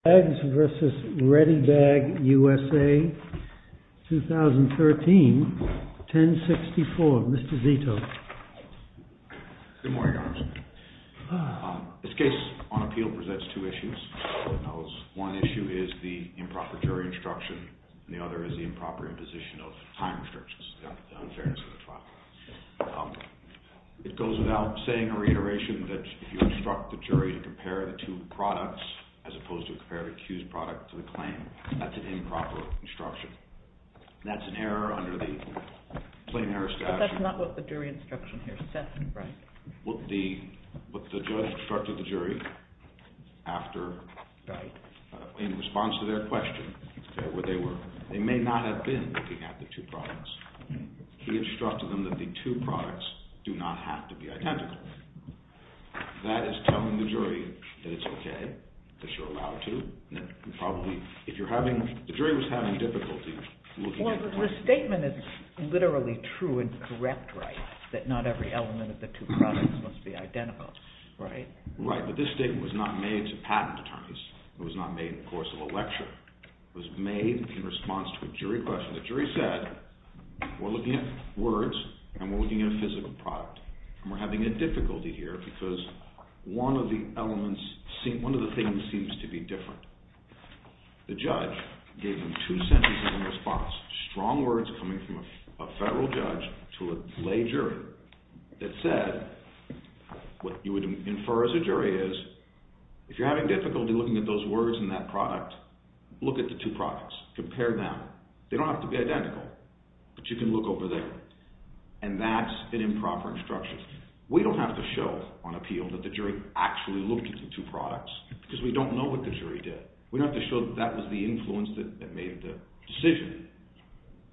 2013, 1064. Mr. Zito. Good morning, Your Honor. This case on appeal presents two issues. One issue is the improper jury instruction, and the other is the improper imposition of time restrictions, the unfairness of the trial. It goes without saying or reiteration that if you instruct the jury to compare the two products, as opposed to comparing them, compare the accused product to the claim, that's an improper instruction. That's an error under the plain error statute. But that's not what the jury instruction here said, right? What the judge instructed the jury after, in response to their question, they may not have been looking at the two products. He instructed them that the two products do not have to be identical. That is telling the jury that it's okay, that you're allowed to. The jury was having difficulty looking at the product. Well, the statement is literally true and correct, right? That not every element of the two products must be identical, right? Right, but this statement was not made to patent attorneys. It was not made in the course of a lecture. It was made in response to a jury question. The jury said, we're looking at words, and we're looking at a physical product. And we're having a difficulty here because one of the elements, one of the things seems to be different. The judge gave them two sentences in response, strong words coming from a federal judge to a lay jury that said, what you would infer as a jury is, if you're having difficulty looking at those words in that product, look at the two products, compare them. They don't have to be identical, but you can look over there. And that's an improper instruction. We don't have to show on appeal that the jury actually looked at the two products because we don't know what the jury did. We don't have to show that that was the influence that made the decision.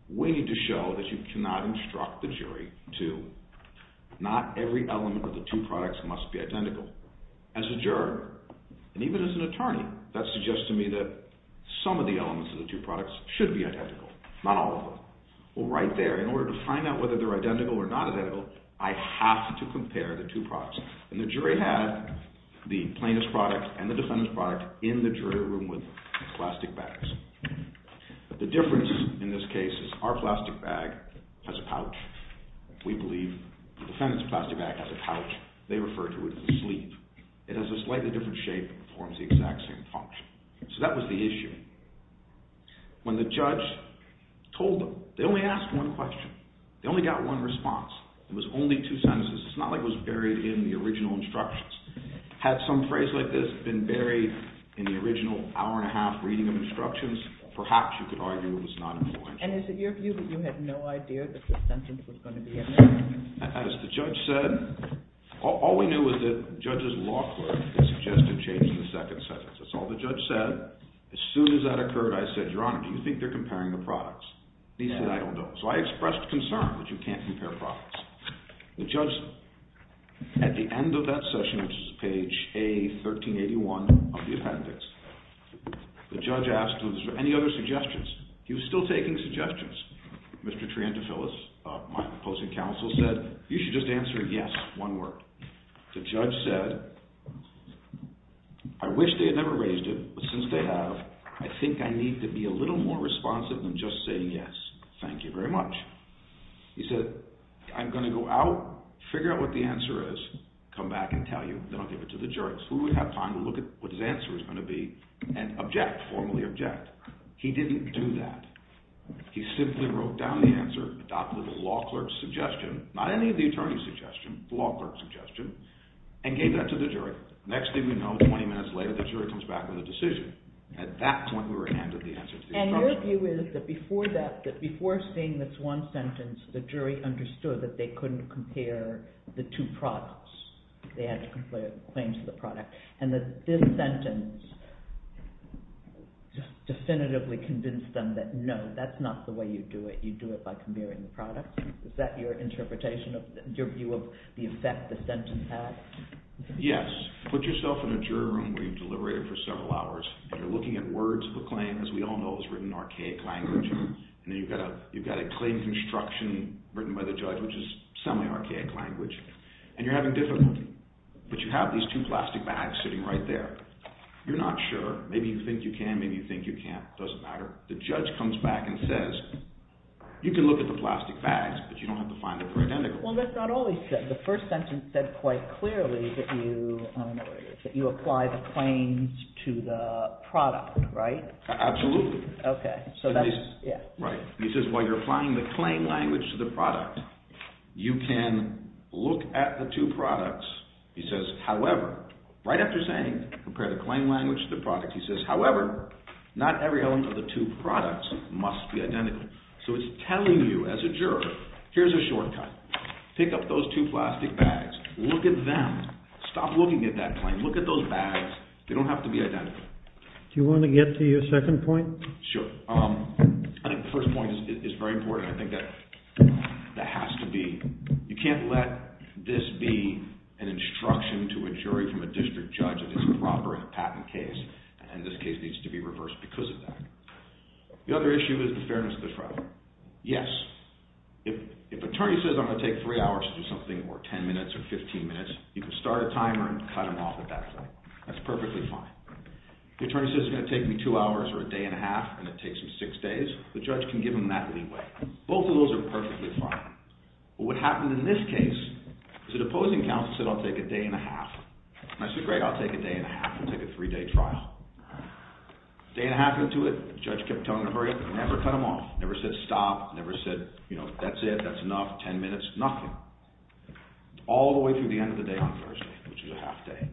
We need to show that you cannot instruct the jury to, not every element of the two products must be identical. As a juror, and even as an attorney, that suggests to me that some of the elements of the two products should be identical, not all of them. Well, right there, in order to find out whether they're identical or not identical, I have to compare the two products. And the jury had the plaintiff's product and the defendant's product in the jury room with plastic bags. But the difference in this case is our plastic bag has a pouch. We believe the defendant's plastic bag has a pouch. They refer to it as a sleeve. It has a slightly different shape and performs the exact same function. So that was the issue. When the judge told them, they only asked one question. They only got one response. It was only two sentences. It's not like it was buried in the original instructions. Had some phrase like this been buried in the original hour-and-a-half reading of instructions, perhaps you could argue it was not influential. And is it your view that you had no idea that this sentence was going to be amended? As the judge said, all we knew was that the judge's law clerk suggested changing the second sentence. That's all the judge said. As soon as that occurred, I said, Your Honor, do you think they're comparing the products? He said, I don't know. So I expressed concern that you can't compare products. The judge, at the end of that session, which is page A1381 of the appendix, the judge asked, were there any other suggestions? He was still taking suggestions. Mr. Triantafyllis, my opposing counsel, said, you should just answer yes, one word. The judge said, I wish they had never raised it, but since they have, I think I need to be a little more responsive than just saying yes. Thank you very much. He said, I'm going to go out, figure out what the answer is, come back and tell you, then I'll give it to the jurors. Who would have time to look at what his answer was going to be and object, formally object? He didn't do that. He simply wrote down the answer, adopted the law clerk's suggestion, not any of the attorney's suggestion, the law clerk's suggestion, and gave that to the jury. Next thing we know, 20 minutes later, the jury comes back with a decision. At that point, we were handed the answer to the instruction. And your view is that before that, that before seeing this one sentence, the jury understood that they couldn't compare the two products, they had to compare the claims to the product, and that this sentence definitively convinced them that no, that's not the way you do it. You do it by comparing the products. Is that your interpretation, your view of the effect the sentence had? Yes. Put yourself in a jury room where you've deliberated for several hours, and you're looking at words of a claim. As we all know, it's written in archaic language. And then you've got a claim construction written by the judge, which is semi-archaic language. And you're having difficulty. But you have these two plastic bags sitting right there. You're not sure. Maybe you think you can, maybe you think you can't. It doesn't matter. The judge comes back and says, you can look at the plastic bags, but you don't have to find them identical. Well, that's not all he said. The first sentence said quite clearly that you, I don't know what it is, that you apply the claims to the product, right? Absolutely. Right. He says while you're applying the claim language to the product, you can look at the two products. He says, however, right after saying compare the claim language to the product, he says, however, not every element of the two products must be identical. So it's telling you as a juror, here's a shortcut. Pick up those two plastic bags. Look at them. Stop looking at that claim. Look at those bags. They don't have to be identical. Do you want to get to your second point? Sure. I think the first point is very important. I think that has to be, you can't let this be an instruction to a jury from a district judge that it's improper in a patent case. And this case needs to be reversed because of that. The other issue is the fairness of the trial. Yes. If an attorney says I'm going to take three hours to do something or 10 minutes or 15 minutes, you can start a timer and cut them off at that point. That's perfectly fine. If the attorney says it's going to take me two hours or a day and a half and it takes him six days, the judge can give him that leeway. Both of those are perfectly fine. But what happened in this case is that opposing counsel said I'll take a day and a half. And I said, great, I'll take a day and a half. We'll take a three-day trial. Day and a half into it, the judge kept telling him to hurry up and never cut them off, never said stop, never said, you know, that's it, that's enough, 10 minutes, nothing. All the way through the end of the day on Thursday, which is a half day.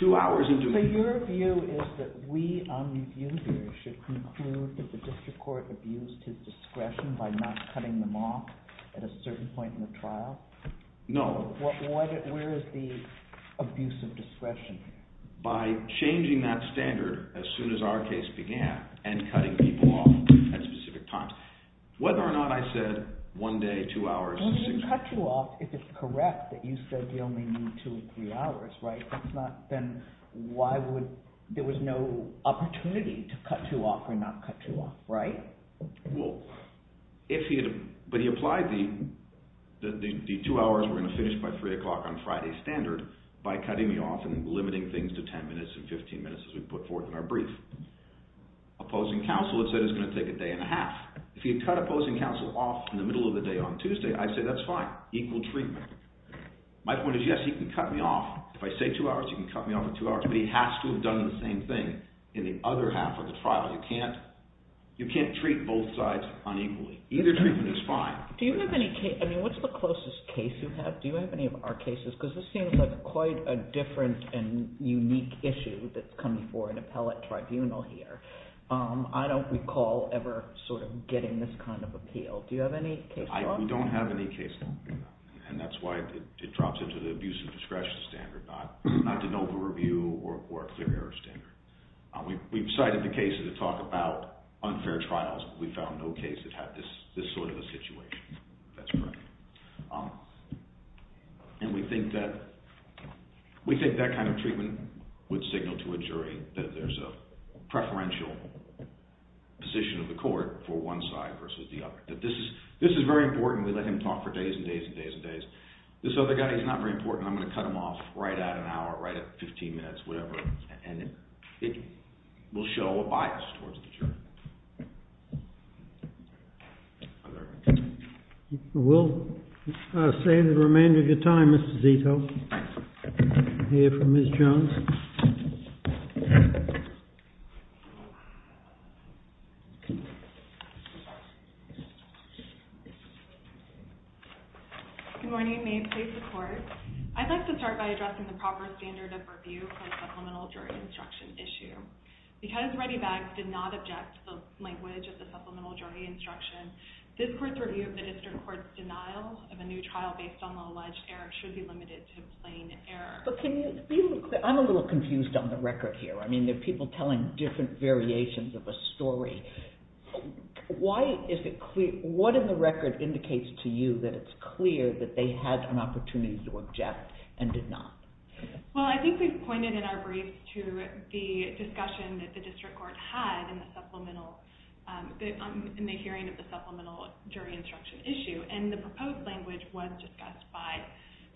Two hours into it. So your view is that we on review here should conclude that the district court abused his discretion by not cutting them off at a certain point in the trial? No. Where is the abuse of discretion? By changing that standard as soon as our case began and cutting people off at specific times. Whether or not I said one day, two hours. Well, he didn't cut you off if it's correct that you said you only need two or three hours, right? That's not, then why would, there was no opportunity to cut you off or not cut you off, right? Well, if he had, but he applied the, the two hours we're going to finish by three o'clock on Friday standard by cutting me off and limiting things to 10 minutes and 15 minutes as we put forth in our brief. Opposing counsel has said it's going to take a day and a half. If he had cut opposing counsel off in the middle of the day on Tuesday, I'd say that's fine, equal treatment. My point is, yes, he can cut me off. If I say two hours, he can cut me off in two hours, but he has to have done the same thing in the other half of the trial. You can't, you can't treat both sides unequally. Either treatment is fine. Do you have any case, I mean, what's the closest case you have? I mean, this is a big issue that's coming for an appellate tribunal here. I don't recall ever sort of getting this kind of appeal. Do you have any case law? We don't have any case law. And that's why it drops into the abuse of discretion standard, not the noble review or clear error standard. We've cited the cases that talk about unfair trials, but we found no case that had this sort of a situation. That's correct. And we think that, we think that kind of treatment would signal to a jury that there's a preferential position of the court for one side versus the other. That this is, this is very important. We let him talk for days and days and days and days. This other guy, he's not very important. I'm going to cut him off right at an hour, right at 15 minutes, whatever. And it will show a bias towards the jury. We'll save the remainder of your time, Mr. Zito. We have Ms. Jones. Good morning. May it please the court. I'd like to start by addressing the proper standard of review for the supplemental jury instruction issue. Because ReadyBags did not object to the language of the supplemental jury instruction, this court's review of the district court's denial of a new trial based on the alleged error should be limited to plain error. But can you be a little, I'm a little confused on the record here. I mean, there are people telling different variations of a story. Why is it clear, what in the record indicates to you that it's clear that they had an opportunity to object and did not? Well, I think we've pointed in our brief to the discussion that the district court had in the supplemental, in the hearing of the supplemental jury instruction issue. And the proposed language was discussed with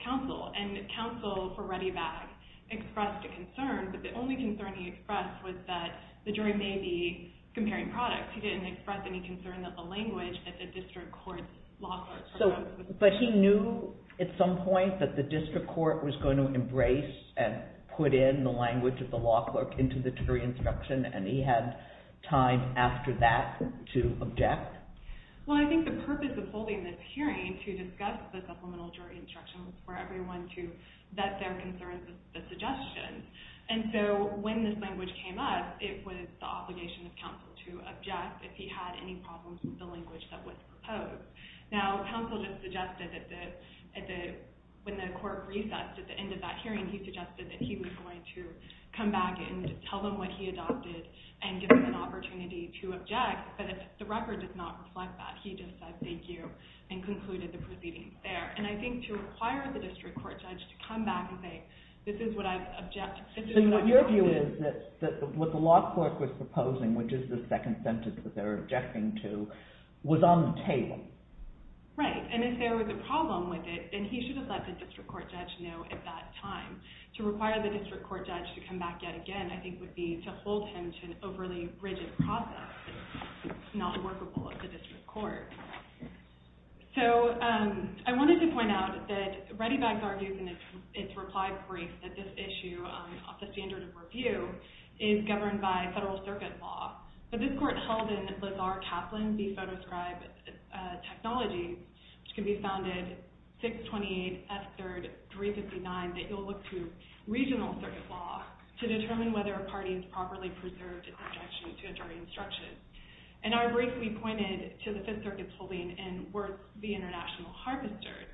counsel. And counsel for ReadyBags expressed a concern, but the only concern he expressed was that the jury may be comparing products. He didn't express any concern that the language of the district court's law clerk. But he knew at some point that the district court was going to embrace and put in the language of the law clerk into the jury instruction and he had time after that to object? Well, I think the purpose of holding this hearing is to allow for everyone to vet their concerns and suggestions. And so when this language came up, it was the obligation of counsel to object if he had any problems with the language that was proposed. Now, counsel just suggested that when the court recessed at the end of that hearing, he suggested that he was going to come back and tell them what he adopted and give them an opportunity to object. But the record does not reflect that. He just said thank you to the district court judge to come back and say, this is what I've objected to. So your view is that what the law clerk was proposing, which is the second sentence that they were objecting to, was on the table? Right. And if there was a problem with it, then he should have let the district court judge know at that time. To require the district court judge to come back yet again, I think would be to hold him to an overly rigid process in which the district court judge has argued in its reply brief that this issue, off the standard of review, is governed by federal circuit law. But this court held in Lazar Kaplan v. Photoscribe Technology, which can be found at 628 F. 3rd 359, that you'll look to regional circuit law to determine whether a party has properly preserved its objection to a jury instruction. In our brief, we pointed to the Fifth Circuit's holding in Worth v. International Harvester,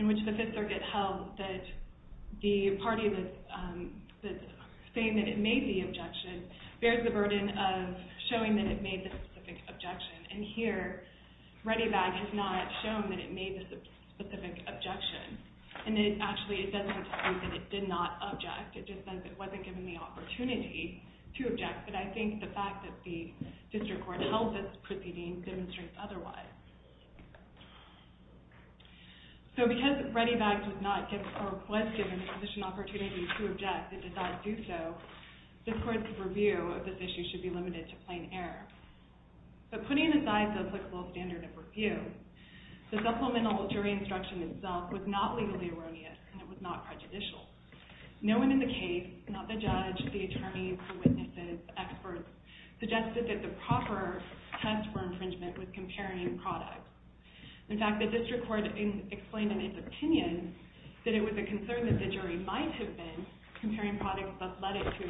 as well, that the party that's saying that it made the objection bears the burden of showing that it made the specific objection. And here, ReadyBag has not shown that it made the specific objection. And it actually doesn't state that it did not object. It just says it wasn't given the opportunity to object, but I think the fact that the district court held this proceeding demonstrates otherwise. So because ReadyBag did not give, or was given the position opportunity to object, it decided to do so, this court's review of this issue should be limited to plain error. But putting aside the applicable standard of review, the supplemental jury instruction itself was not legally erroneous and it was not prejudicial. No one in the case, not the judge, the attorneys, the witnesses, experts, suggested that the proper test for infringement was comparing products. In fact, the district court explained in its opinion that it was a concern that the jury might have been comparing products, but led it to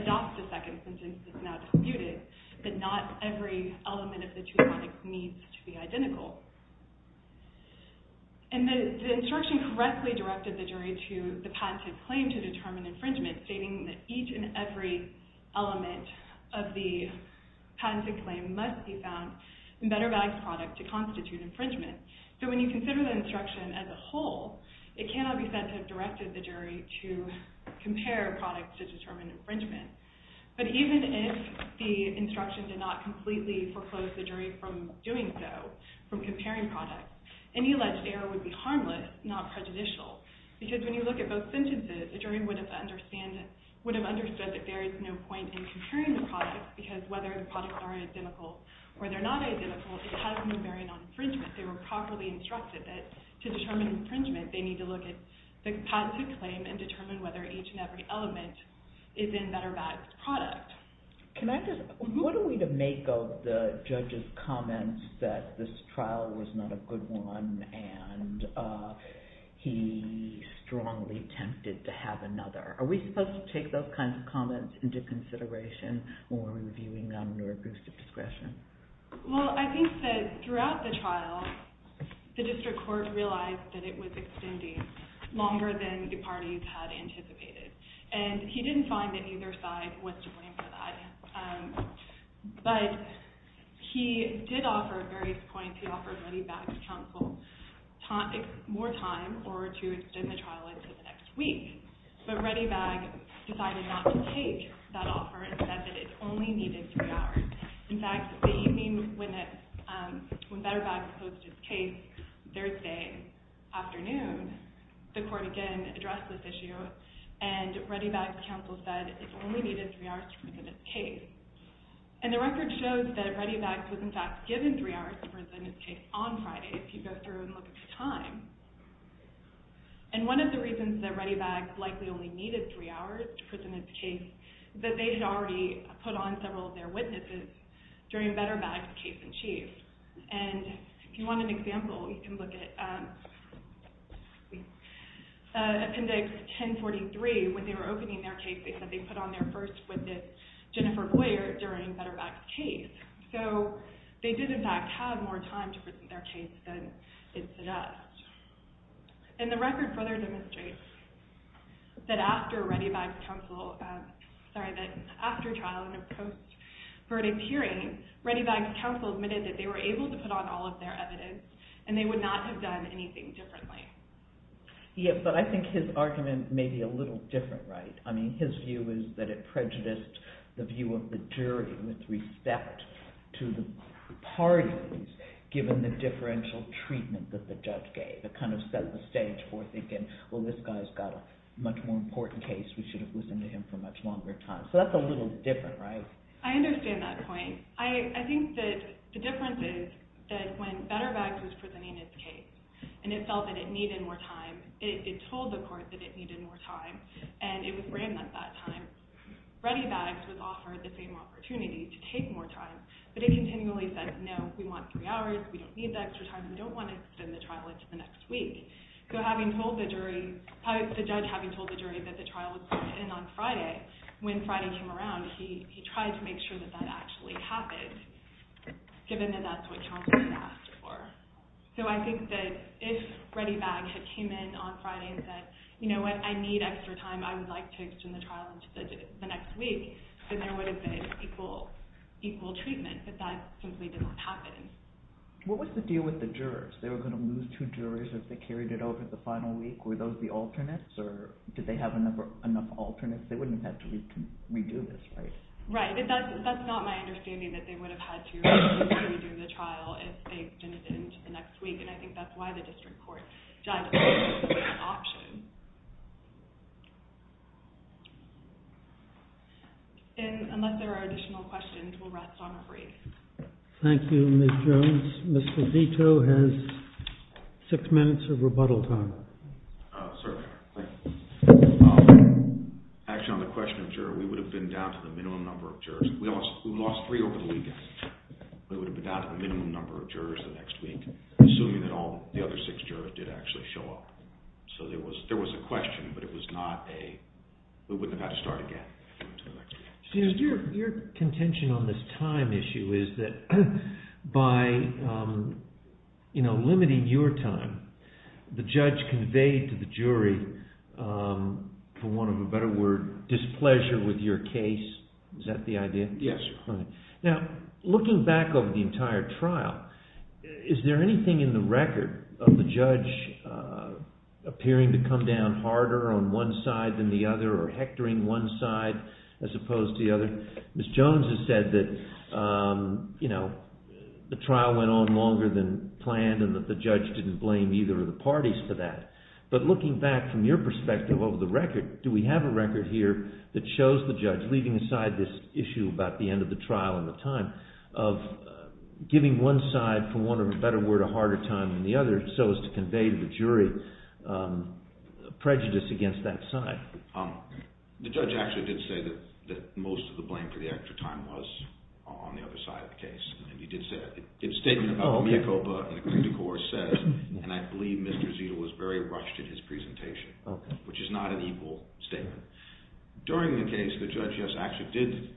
adopt a second sentence that's now disputed, that not every element of the two products needs to be identical. And the instruction correctly directed the jury to the patented claim to determine infringement, stating that each and every element of the patented claim must be found in BetterBag's product to constitute infringement. So when you consider the instruction as a whole, it cannot be said to have directed the jury to compare products to determine infringement. But even if the instruction did not completely foreclose the jury from doing so, from comparing products, any alleged error would be harmless, not prejudicial. Because when you look at both sentences, the jury would have understood that there is no point in comparing the products because whether the products are identical or they're not identical, it has no bearing on infringement. They were properly instructed that to determine infringement, they need to look at the patented claim and determine whether each and every element is in BetterBag's product. Can I just, what are we to make of the judge's comments that this trial was not a good one and he strongly attempted to have another? Did he take those comments into consideration when reviewing under a boost of discretion? Well, I think that throughout the trial, the district court realized that it was extending longer than the parties had anticipated. And he didn't find that either side was to blame for that. But he did offer various points. He offered ReadyBag's counsel more time or to extend the trial until the next week. But ReadyBag decided to take that offer and said that it only needed three hours. In fact, the evening when BetterBag closed his case, Thursday afternoon, the court again addressed this issue and ReadyBag's counsel said it only needed three hours to present his case. And the record shows that ReadyBag was in fact given three hours to present his case on Friday if you go through and look at the time. And one of the reasons that ReadyBag likely only needed three hours to present his case is that they had already put on several of their witnesses during BetterBag's case in chief. And if you want an example, you can look at Appendix 1043. When they were opening their case, they said they put on their first witness, Jennifer Boyer, during BetterBag's case. So they did in fact have more time to present their case than it did us. And the record further demonstrates that after ReadyBag's counsel, sorry, that after trial and a post-verdict hearing, ReadyBag's counsel admitted that they were able to put on all of their evidence and they would not have done anything differently. Yeah, but I think his argument may be a little different, right? I mean, his view is that it prejudiced the view of the jury with respect to the parties given the differential treatment that the judge gave. If we had a much more important case, we should have listened to him for a much longer time. So that's a little different, right? I understand that point. I think that the difference is that when BetterBag's was presenting his case and it felt that it needed more time, it told the court that it needed more time and it was random at that time. ReadyBag's was offered the same opportunity to take more time, but it continually said, no, we want three hours, we don't need that extra time, and so the jury that the trial would put in on Friday, when Friday came around, he tried to make sure that that actually happened given that that's what Johnson had asked for. So I think that if ReadyBag had came in on Friday and said, you know what, I need extra time, I would like to extend the trial into the next week, then there would have been equal treatment, but that simply didn't happen. If they have enough alternates, they wouldn't have to redo this, right? Right, that's not my understanding that they would have had to redo the trial if they extended it into the next week, and I think that's why the district court judged it as an option. Unless there are additional questions, we'll rest on a brief. Thank you, Ms. Jones. Mr. Vito has six minutes of rebuttal time. Sir, thank you. Actually, on the question of juror, we would have been down to the minimum number of jurors. We lost three over the weekend, but it would have been down to the minimum number of jurors the next week, assuming that all the other six jurors did actually show up. So there was a question, but it was not a, we wouldn't have had to start again. Your contention on this time issue is that by limiting your time, the judge conveyed to the jury, for want of a better word, displeasure with your case. Is that the idea? Yes. Now, looking back over the entire trial, is there anything in the record of the judge appearing to come down harder on one side than the other, or hectoring one side as opposed to the other? Ms. Jones has said that, you know, the trial went on longer than planned, and neither of the parties for that. But looking back from your perspective over the record, do we have a record here that shows the judge leaving aside this issue about the end of the trial and the time of giving one side for want of a better word a harder time than the other so as to convey to the jury prejudice against that side? The judge actually did say that most of the blame for the extra time was on the other side of the case. And he did say that. His statement about Minicopa and the clinical court says, and I believe Mr. Zetel was very rushed in his presentation, which is not an equal statement. During the case, the judge, yes, actually did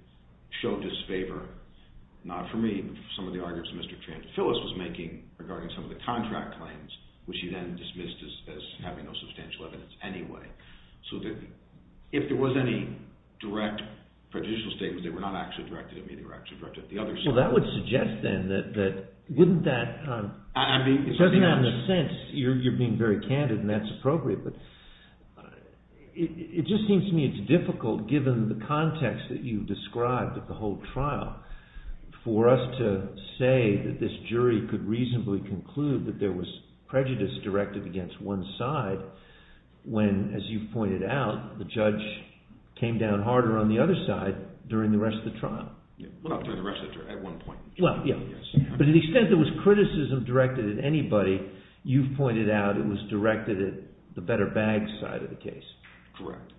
show disfavor, not for me, but for some of the arguments that Mr. Phillis was making regarding some of the contract claims, which he then dismissed as having no substantial evidence anyway. So if there was any direct prejudicial statements that were not actually directed at me, they were actually directed at the other side. Well, that would suggest then that wouldn't that, it doesn't make sense, you're being very candid and that's appropriate, but it just seems to me it's difficult given the context that you've described at the whole trial for us to say that this jury could reasonably conclude that there was prejudice directed against one side when, as you've pointed out, the judge came down harder on the other side during the rest of the trial. Well, during the rest of the trial, at one point. Well, yeah, but to the extent there was criticism directed at anybody, you've pointed out it was directed at the better bag side of the case. Correct.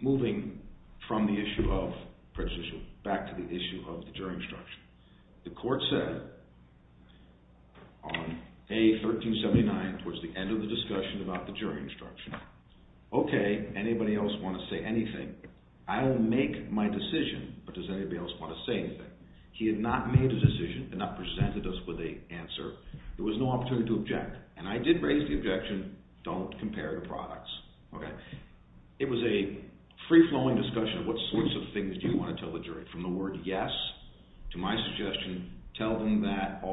Moving from the issue of prejudicial back to the issue of the jury instruction. The court said on A1379 towards the end of the discussion about the jury instruction, okay, anybody else want to say anything? I'll make my decision, but does anybody else want to say anything? He had not made a decision and not presented us with an answer. There was no opportunity to object and I did raise the objection don't compare the products. Okay. It was a free-flowing discussion of what sorts of things do you want to tell the jury? From the word yes to my suggestion, tell them that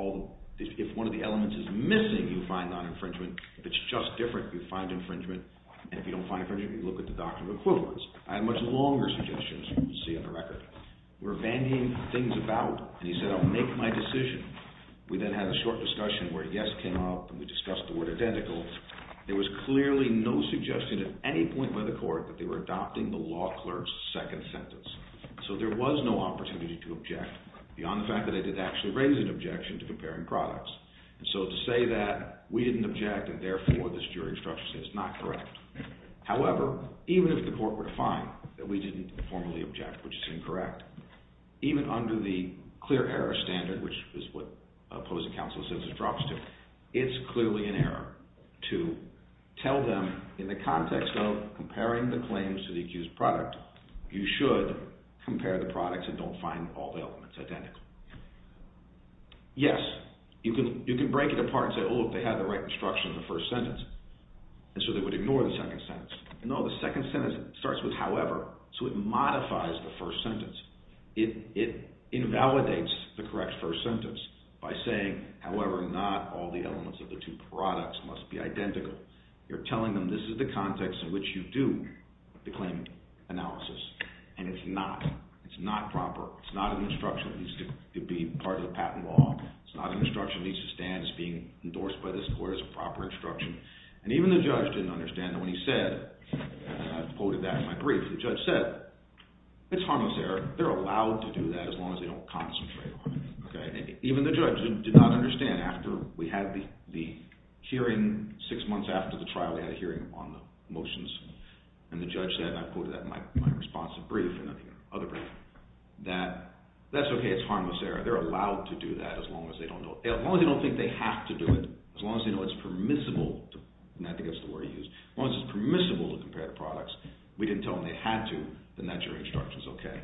if one of the elements is missing, you find non-infringement. If it's just different, you find infringement. And if you don't find infringement, you look at the doctrine of equivalence. I have much longer suggestions than you can see on the record. We're vanging things about and he said I'll make my decision. We then had a short discussion where yes came up and we discussed the word identical. There was clearly no suggestion at any point by the court that they were adopting the law clerk's second sentence. So there was no opportunity to object beyond the fact that I did actually raise an objection to comparing products. So to say that we didn't object and therefore this jury instruction says it's not correct. However, even if the court were to find that we didn't formally object which is incorrect, even under the clear error standard which is what opposing counsel says it drops to, it's clearly an error to tell them in the context of comparing the claims to the accused product, you should compare the products and don't find all the elements identical. Yes, you can break it apart and say oh look, they had the right instruction in the first sentence and so they would ignore the second sentence. No, the second sentence starts with however so it modifies the first sentence. It invalidates the correct first sentence by saying however not all the elements of the two products must be identical. You're telling them this is the context in which you do the claim analysis and it's not. It's not proper. It's not an instruction that needs to be part of the patent law. It's not an instruction that needs to stand as being endorsed by this court as a proper instruction and even the judge didn't understand that when he said, and I quoted that in my brief, the judge said it's harmless error. They're allowed to do that as long as they don't concentrate on it. Even the judge did not understand after we had the hearing six months after the trial we had a hearing on the motions and the judge said and I quoted that in my responsive brief and other briefs that that's okay it's harmless error. They're allowed to do that as long as they don't know. As long as they don't think they have to do it. As long as they know it's permissible and I think that's the word he used as long as it's permissible to compare the products we didn't tell them they had to then that jury instruction is okay.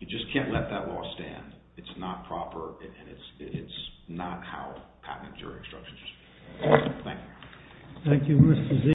You just can't let that law stand. It's not proper and it's not how patented jury instruction is. Thank you. Thank you Mr. Zeig.